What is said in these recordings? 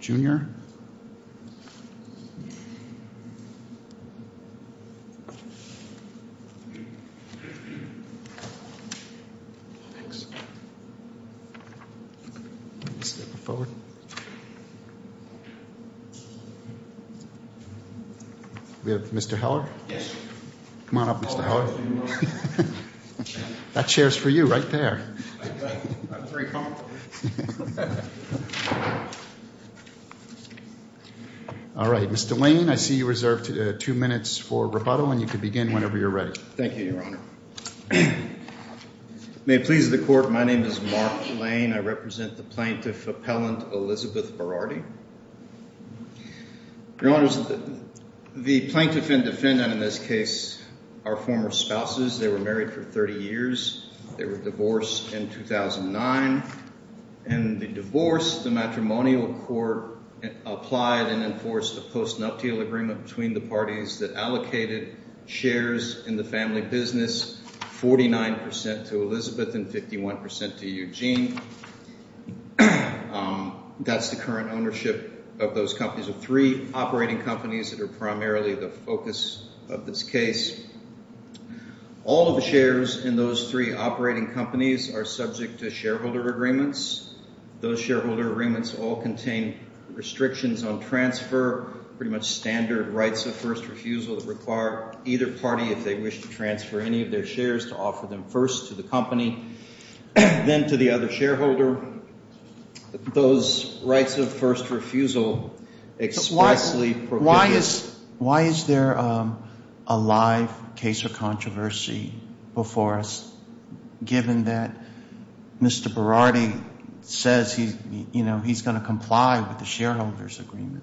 Jr. We have Mr. Heller. Come on up, Mr. Heller. That chair's for you, right there. All right, Mr. Lane, I see you reserved two minutes for rebuttal, and you can begin whenever you're ready. Thank you, Your Honor. May it please the Court, my name is Mark Lane. I represent the plaintiff appellant Elizabeth Berardi. Your Honors, the plaintiff and defendant in this case are former spouses. They were married for 30 years. They were divorced in 2009. In the divorce, the matrimonial court applied and enforced a post-nuptial agreement between the parties that allocated shares in the family business, 49% to Elizabeth and 51% to Eugene. That's the current ownership of those companies, of three operating companies that are primarily the focus of this case. All of the shares in those three operating companies are subject to shareholder agreements. Those shareholder agreements all contain restrictions on transfer, pretty much standard rights of first refusal that require either party, if they wish to transfer any of their shares, to offer them first to the company, then to the other shareholder. Those rights of first refusal expressly prohibit it. Why is there a live case of controversy before us, given that Mr. Berardi says he's going to comply with the shareholder's agreement?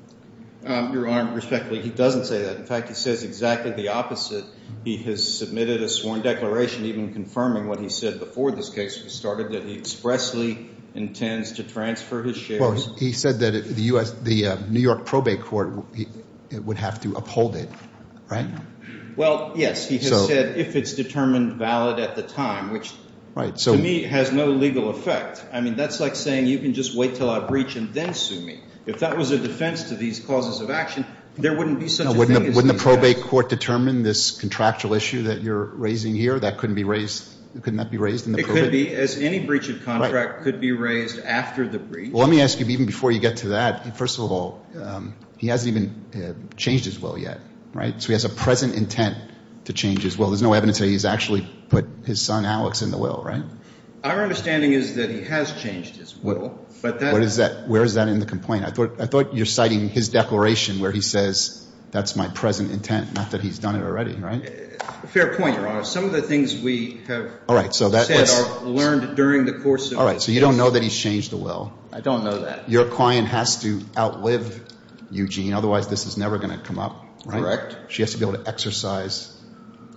Your Honor, respectfully, he doesn't say that. In fact, he says exactly the opposite. He has submitted a sworn declaration even confirming what he said before this case was started, that he expressly intends to transfer his shares. Well, he said that the New York probate court would have to uphold it, right? Well, yes. He has said if it's determined valid at the time, which to me has no legal effect. I mean that's like saying you can just wait until I breach and then sue me. If that was a defense to these causes of action, there wouldn't be such a thing as a breach. Now, wouldn't the probate court determine this contractual issue that you're raising here? That couldn't be raised, couldn't that be raised in the probate? It could be, as any breach of contract could be raised after the breach. Well, let me ask you, even before you get to that, first of all, he hasn't even changed his will yet, right? So he has a present intent to change his will. There's no evidence that he's actually put his son, Alex, in the will, right? Our understanding is that he has changed his will. What is that? Where is that in the complaint? I thought you're citing his declaration where he says that's my present intent, not that he's done it already, right? Fair point, Your Honor. Some of the things we have said or learned during the course of this hearing. All right, so you don't know that he's changed the will. I don't know that. Your client has to outlive Eugene, otherwise this is never going to come up, right? Correct. She has to be able to exercise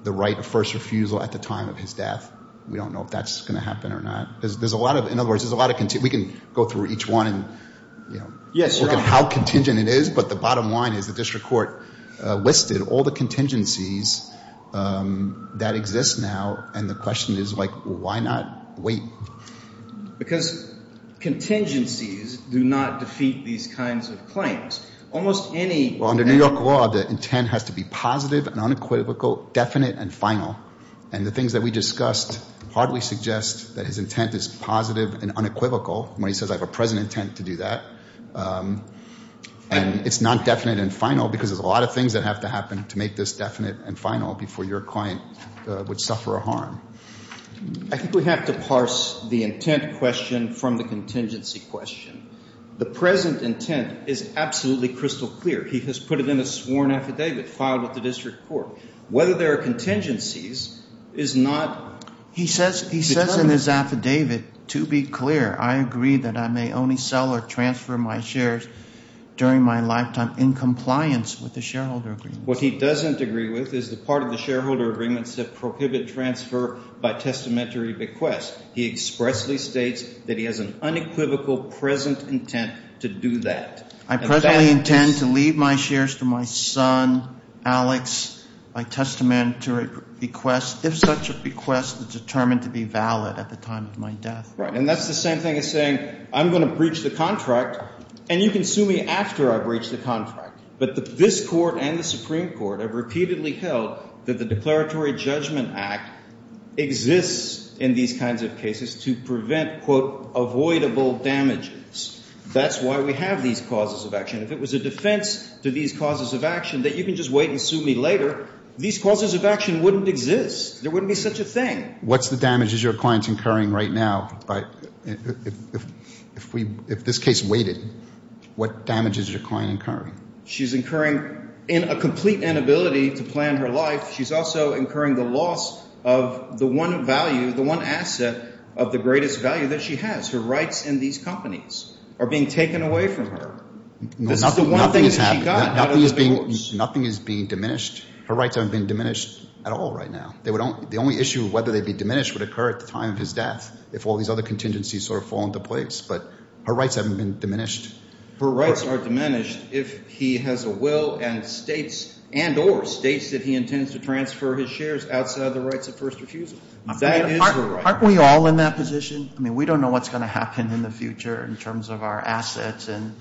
the right of first refusal at the time of his death. We don't know if that's going to happen or not. There's a lot of, in other words, there's a lot of, we can go through each one and look at how contingent it is. But the bottom line is the district court listed all the contingencies that exist now. And the question is, like, why not wait? Because contingencies do not defeat these kinds of claims. Almost any— Well, under New York law, the intent has to be positive and unequivocal, definite and final. And the things that we discussed hardly suggest that his intent is positive and unequivocal when he says I have a present intent to do that. And it's not definite and final because there's a lot of things that have to happen to make this definite and final before your client would suffer a harm. I think we have to parse the intent question from the contingency question. The present intent is absolutely crystal clear. He has put it in a sworn affidavit filed with the district court. Whether there are contingencies is not— He says in his affidavit, to be clear, I agree that I may only sell or transfer my shares during my lifetime in compliance with the shareholder agreements. What he doesn't agree with is the part of the shareholder agreements that prohibit transfer by testamentary bequest. He expressly states that he has an unequivocal present intent to do that. I presently intend to leave my shares to my son, Alex, by testamentary bequest, if such a bequest is determined to be valid at the time of my death. Right, and that's the same thing as saying I'm going to breach the contract and you can sue me after I breach the contract. But this court and the Supreme Court have repeatedly held that the Declaratory Judgment Act exists in these kinds of cases to prevent, quote, avoidable damages. That's why we have these causes of action. If it was a defense to these causes of action that you can just wait and sue me later, these causes of action wouldn't exist. There wouldn't be such a thing. What's the damages your client's incurring right now? If this case waited, what damages is your client incurring? She's incurring a complete inability to plan her life. She's also incurring the loss of the one value, the one asset of the greatest value that she has, her rights in these companies, are being taken away from her. This is the one thing that she got out of the divorce. Nothing is being diminished. Her rights haven't been diminished at all right now. The only issue of whether they'd be diminished would occur at the time of his death if all these other contingencies sort of fall into place. But her rights haven't been diminished. Her rights are diminished if he has a will and states and or states that he intends to transfer his shares outside of the rights of first refusal. That is her right. Aren't we all in that position? I mean, we don't know what's going to happen in the future in terms of our assets and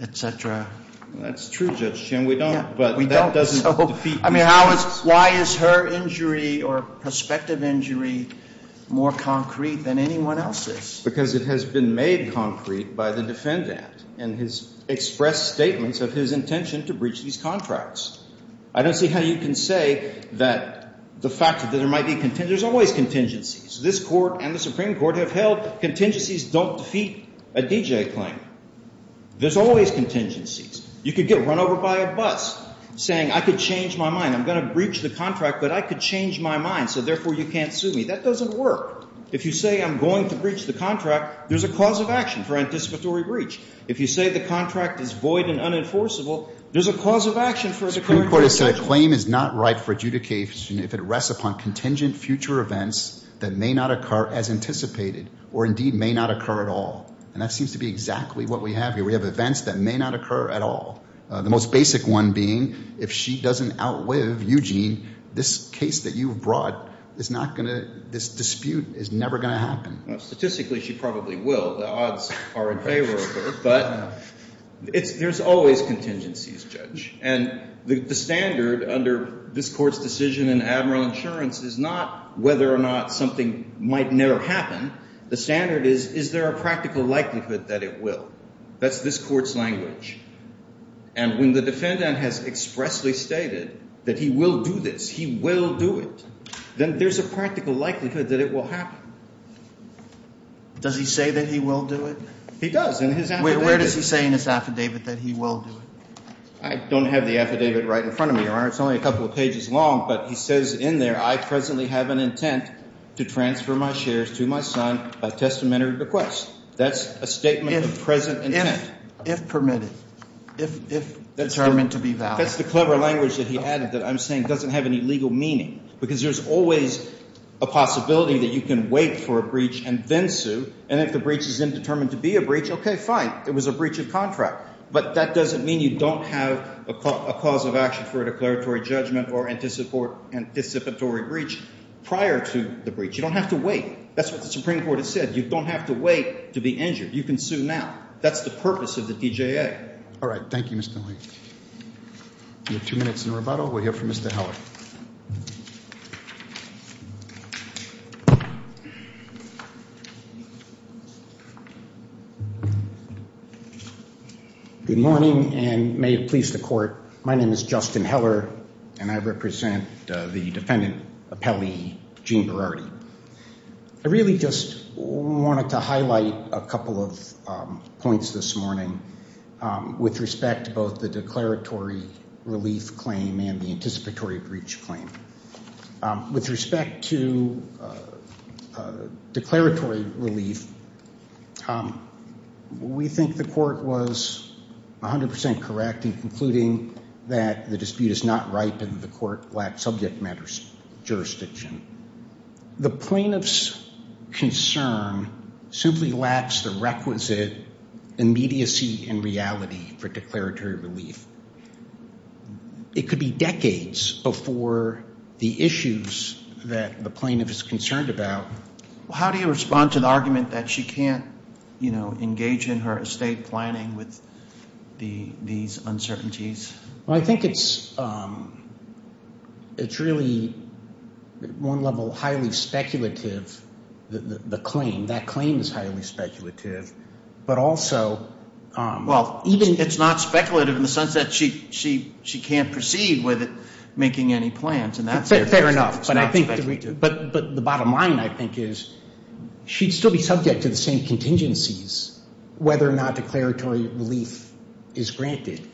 et cetera. That's true, Judge Chin. We don't. Yeah, we don't. So, I mean, how is – why is her injury or prospective injury more concrete than anyone else's? Because it has been made concrete by the defendant in his expressed statements of his intention to breach these contracts. I don't see how you can say that the fact that there might be – there's always contingencies. This court and the Supreme Court have held contingencies don't defeat a DJ claim. There's always contingencies. You could get run over by a bus saying I could change my mind. I'm going to breach the contract, but I could change my mind, so therefore you can't sue me. That doesn't work. If you say I'm going to breach the contract, there's a cause of action for anticipatory breach. If you say the contract is void and unenforceable, there's a cause of action for the current breach. The Supreme Court has said a claim is not right for adjudication if it rests upon contingent future events that may not occur as anticipated or indeed may not occur at all, and that seems to be exactly what we have here. We have events that may not occur at all, the most basic one being if she doesn't outlive Eugene, this case that you've brought is not going to – this dispute is never going to happen. Statistically, she probably will. The odds are in favor of her, but there's always contingencies, Judge, and the standard under this court's decision in admiral insurance is not whether or not something might never happen. The standard is is there a practical likelihood that it will. That's this court's language. And when the defendant has expressly stated that he will do this, he will do it, then there's a practical likelihood that it will happen. Does he say that he will do it? He does in his affidavit. Where does he say in his affidavit that he will do it? I don't have the affidavit right in front of me, Your Honor. It's only a couple of pages long, but he says in there, I presently have an intent to transfer my shares to my son by testamentary request. That's a statement of present intent. If permitted, if determined to be valid. That's the clever language that he added that I'm saying doesn't have any legal meaning because there's always a possibility that you can wait for a breach and then sue, and if the breach is then determined to be a breach, okay, fine, it was a breach of contract. But that doesn't mean you don't have a cause of action for a declaratory judgment or anticipatory breach prior to the breach. You don't have to wait. That's what the Supreme Court has said. You don't have to wait to be injured. You can sue now. That's the purpose of the DJA. All right. Thank you, Mr. Lee. We have two minutes in the rebuttal. We'll hear from Mr. Heller. Good morning, and may it please the Court, my name is Justin Heller, and I represent the defendant appellee, Gene Berardi. I really just wanted to highlight a couple of points this morning with respect to both the declaratory relief claim and the anticipatory breach claim. With respect to declaratory relief, we think the Court was 100% correct in concluding that the dispute is not ripe and the Court lacks subject matter jurisdiction. The plaintiff's concern simply lacks the requisite immediacy and reality for declaratory relief. It could be decades before the issues that the plaintiff is concerned about. How do you respond to the argument that she can't engage in her estate planning with these uncertainties? I think it's really, at one level, highly speculative, the claim. That claim is highly speculative. It's not speculative in the sense that she can't proceed with it, making any plans. Fair enough. But the bottom line, I think, is she'd still be subject to the same contingencies, whether or not declaratory relief is granted.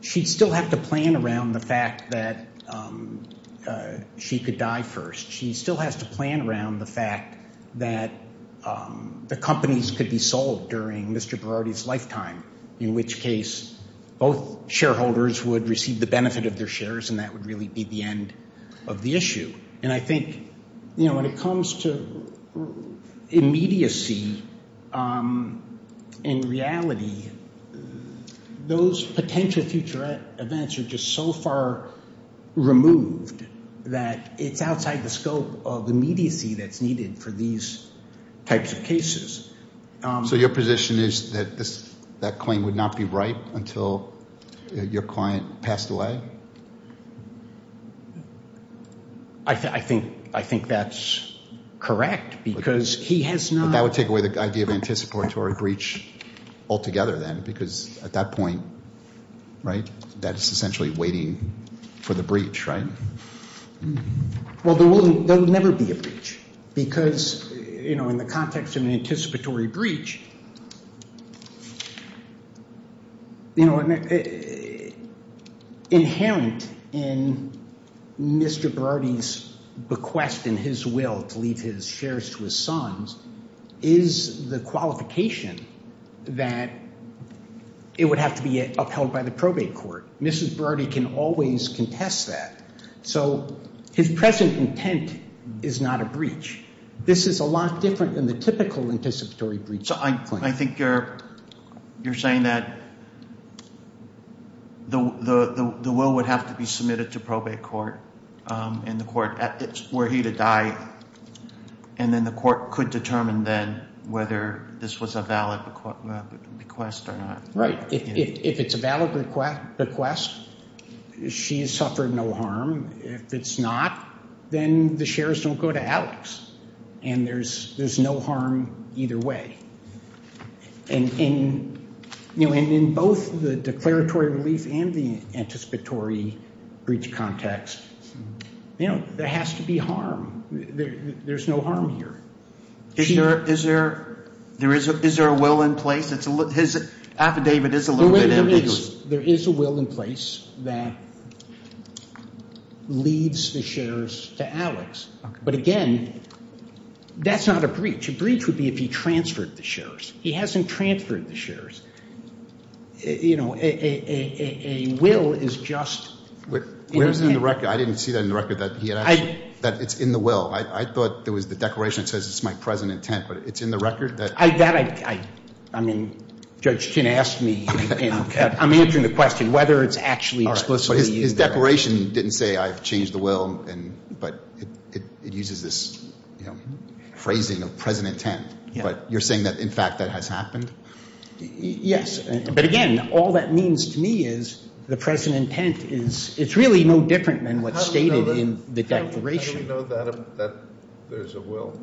She'd still have to plan around the fact that she could die first. She still has to plan around the fact that the companies could be sold during Mr. Berardi's lifetime, in which case both shareholders would receive the benefit of their shares, and that would really be the end of the issue. And I think when it comes to immediacy and reality, those potential future events are just so far removed that it's outside the scope of immediacy that's needed for these types of cases. So your position is that that claim would not be right until your client passed away? I think that's correct, because he has not. But that would take away the idea of anticipatory breach altogether then, because at that point, right, that's essentially waiting for the breach, right? Well, there would never be a breach, because in the context of an anticipatory breach, inherent in Mr. Berardi's bequest and his will to leave his shares to his sons is the qualification that it would have to be upheld by the probate court. Mrs. Berardi can always contest that. So his present intent is not a breach. This is a lot different than the typical anticipatory breach claim. So I think you're saying that the will would have to be submitted to probate court and the court were he to die, and then the court could determine then whether this was a valid bequest or not. Right. If it's a valid bequest, she has suffered no harm. If it's not, then the shares don't go to Alex, and there's no harm either way. And in both the declaratory relief and the anticipatory breach context, there has to be harm. There's no harm here. Is there a will in place? His affidavit is a little bit ambiguous. There is a will in place that leaves the shares to Alex. But, again, that's not a breach. A breach would be if he transferred the shares. He hasn't transferred the shares. You know, a will is just an intent. Where is it in the record? I didn't see that in the record, that it's in the will. I thought there was the declaration that says it's my present intent, but it's in the record? I mean, Judge Tinn asked me. I'm answering the question whether it's actually explicitly in there. But his declaration didn't say I've changed the will, but it uses this phrasing of present intent. But you're saying that, in fact, that has happened? Yes. But, again, all that means to me is the present intent is really no different than what's stated in the declaration. How do we know that there's a will?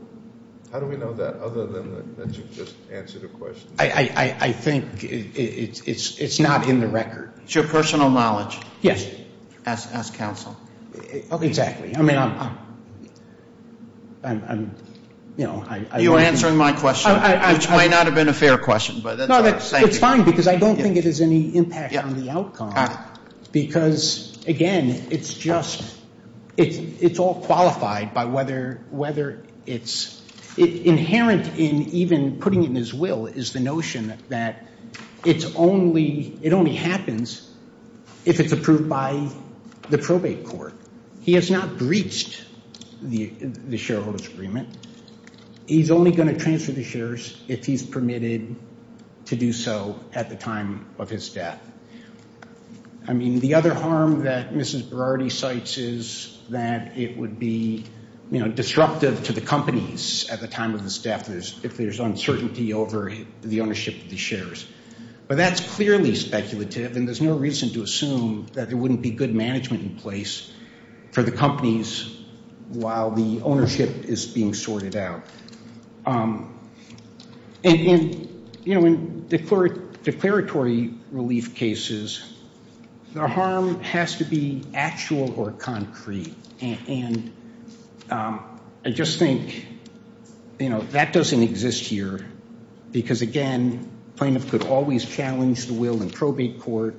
How do we know that other than that you've just answered a question? I think it's not in the record. It's your personal knowledge. Yes. Ask counsel. Exactly. I mean, I'm, you know. You're answering my question, which might not have been a fair question. No, it's fine, because I don't think it has any impact on the outcome. Because, again, it's just, it's all qualified by whether it's, inherent in even putting in his will is the notion that it's only, it only happens if it's approved by the probate court. He has not breached the shareholder's agreement. He's only going to transfer the shares if he's permitted to do so at the time of his death. I mean, the other harm that Mrs. Berardi cites is that it would be, you know, disruptive to the companies at the time of his death if there's uncertainty over the ownership of the shares. But that's clearly speculative, and there's no reason to assume that there wouldn't be good management in place for the companies while the ownership is being sorted out. And, you know, in declaratory relief cases, the harm has to be actual or concrete. And I just think, you know, that doesn't exist here, because, again, plaintiff could always challenge the will in probate court,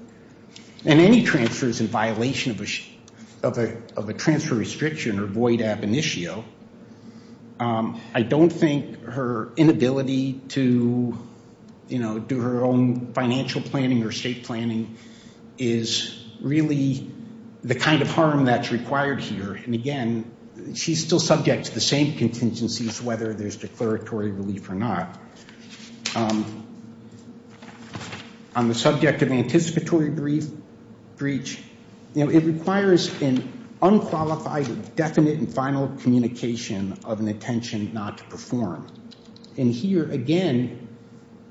and any transfers in violation of a transfer restriction or void ab initio, I don't think her inability to, you know, do her own financial planning or state planning is really the kind of harm that's required here. And, again, she's still subject to the same contingencies, whether there's declaratory relief or not. On the subject of anticipatory breach, you know, it requires an unqualified, definite, and final communication of an intention not to perform. And here, again,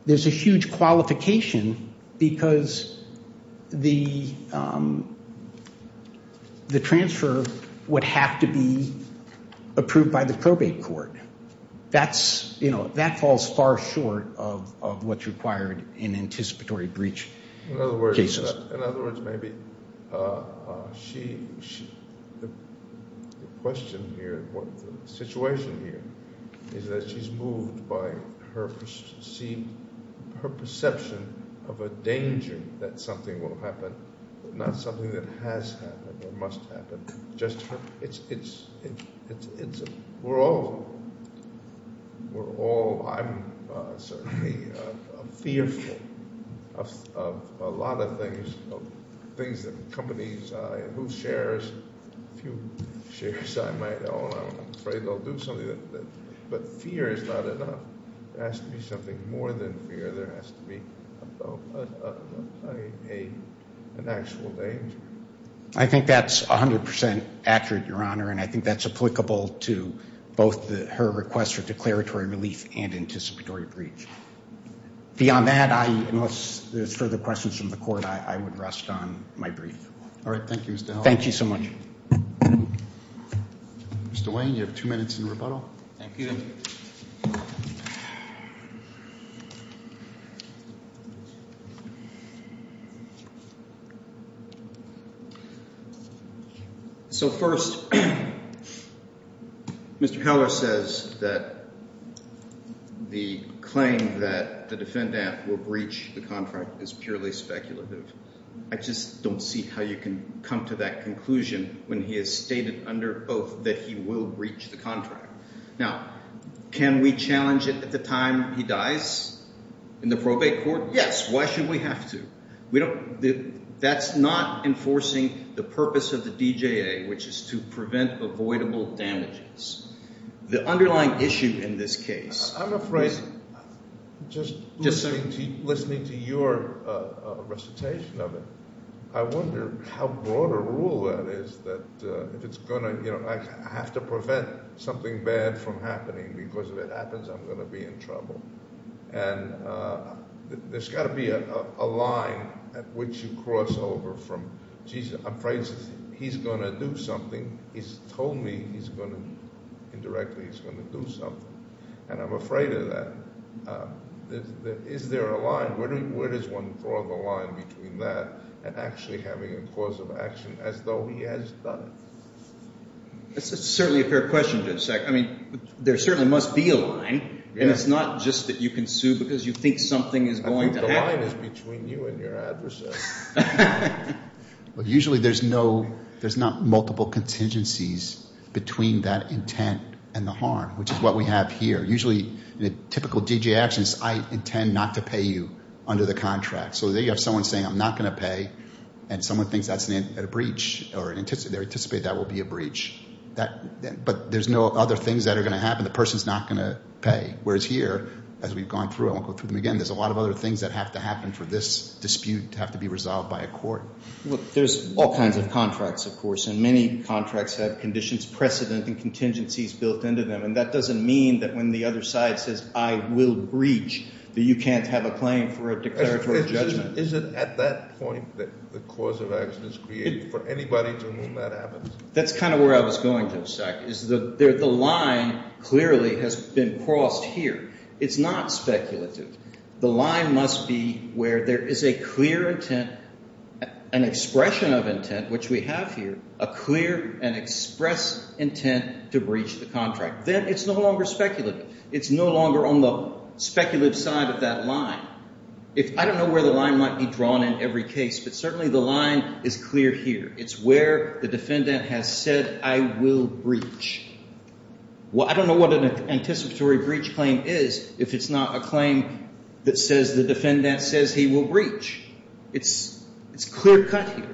there's a huge qualification because the transfer would have to be approved by the probate court. That's, you know, that falls far short of what's required in anticipatory breach cases. In other words, maybe the question here, the situation here, is that she's moved by her perception of a danger that something will happen, not something that has happened or must happen. It's, we're all, we're all, I'm certainly fearful of a lot of things, of things that companies, whose shares, a few shares I might own, I'm afraid they'll do something. But fear is not enough. There has to be something more than fear. There has to be an actual danger. I think that's 100% accurate, Your Honor, and I think that's applicable to both her request for declaratory relief and anticipatory breach. Beyond that, I, unless there's further questions from the court, I would rest on my brief. All right. Thank you, Mr. Howell. Thank you so much. Mr. Wayne, you have two minutes in rebuttal. Thank you. So first, Mr. Howell says that the claim that the defendant will breach the contract is purely speculative. I just don't see how you can come to that conclusion when he has stated under oath that he will breach the contract. Now, can we challenge it at the time he dies in the probate court? Yes. Why should we have to? We don't, that's not enforcing the purpose of the DJA, which is to prevent avoidable damages. The underlying issue in this case. I'm afraid, just listening to your recitation of it, I wonder how broad a rule that is that if it's going to, you know, I have to prevent something bad from happening because if it happens, I'm going to be in trouble. And there's got to be a line at which you cross over from Jesus. I'm afraid he's going to do something. He's told me he's going to, indirectly, he's going to do something. And I'm afraid of that. Is there a line? Where does one draw the line between that and actually having a cause of action as though he has done it? That's certainly a fair question, Judge Sack. I mean, there certainly must be a line. And it's not just that you can sue because you think something is going to happen. I think the line is between you and your adversary. Well, usually there's no, there's not multiple contingencies between that intent and the harm, which is what we have here. Usually in a typical D.J. actions, I intend not to pay you under the contract. So there you have someone saying, I'm not going to pay. And someone thinks that's a breach or they anticipate that will be a breach. But there's no other things that are going to happen. The person is not going to pay. Whereas here, as we've gone through, I won't go through them again, there's a lot of other things that have to happen for this dispute to have to be resolved by a court. Well, there's all kinds of contracts, of course. And many contracts have conditions, precedent, and contingencies built into them. And that doesn't mean that when the other side says, I will breach that you can't have a claim for a declaratory judgment. Is it at that point that the cause of action is created for anybody to know that happens? That's kind of where I was going to, is that the line clearly has been crossed here. It's not speculative. The line must be where there is a clear intent, an expression of intent, which we have here, a clear and express intent to breach the contract. Then it's no longer speculative. It's no longer on the speculative side of that line. I don't know where the line might be drawn in every case, but certainly the line is clear here. It's where the defendant has said, I will breach. I don't know what an anticipatory breach claim is if it's not a claim that says the defendant says he will breach. It's clear cut here.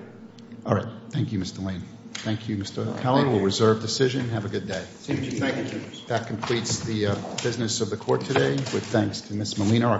All right. Thank you, Mr. Lane. Thank you, Mr. Keller. We'll reserve decision. Have a good day. Thank you. That completes the business of the court today. Thanks to Ms. Molina.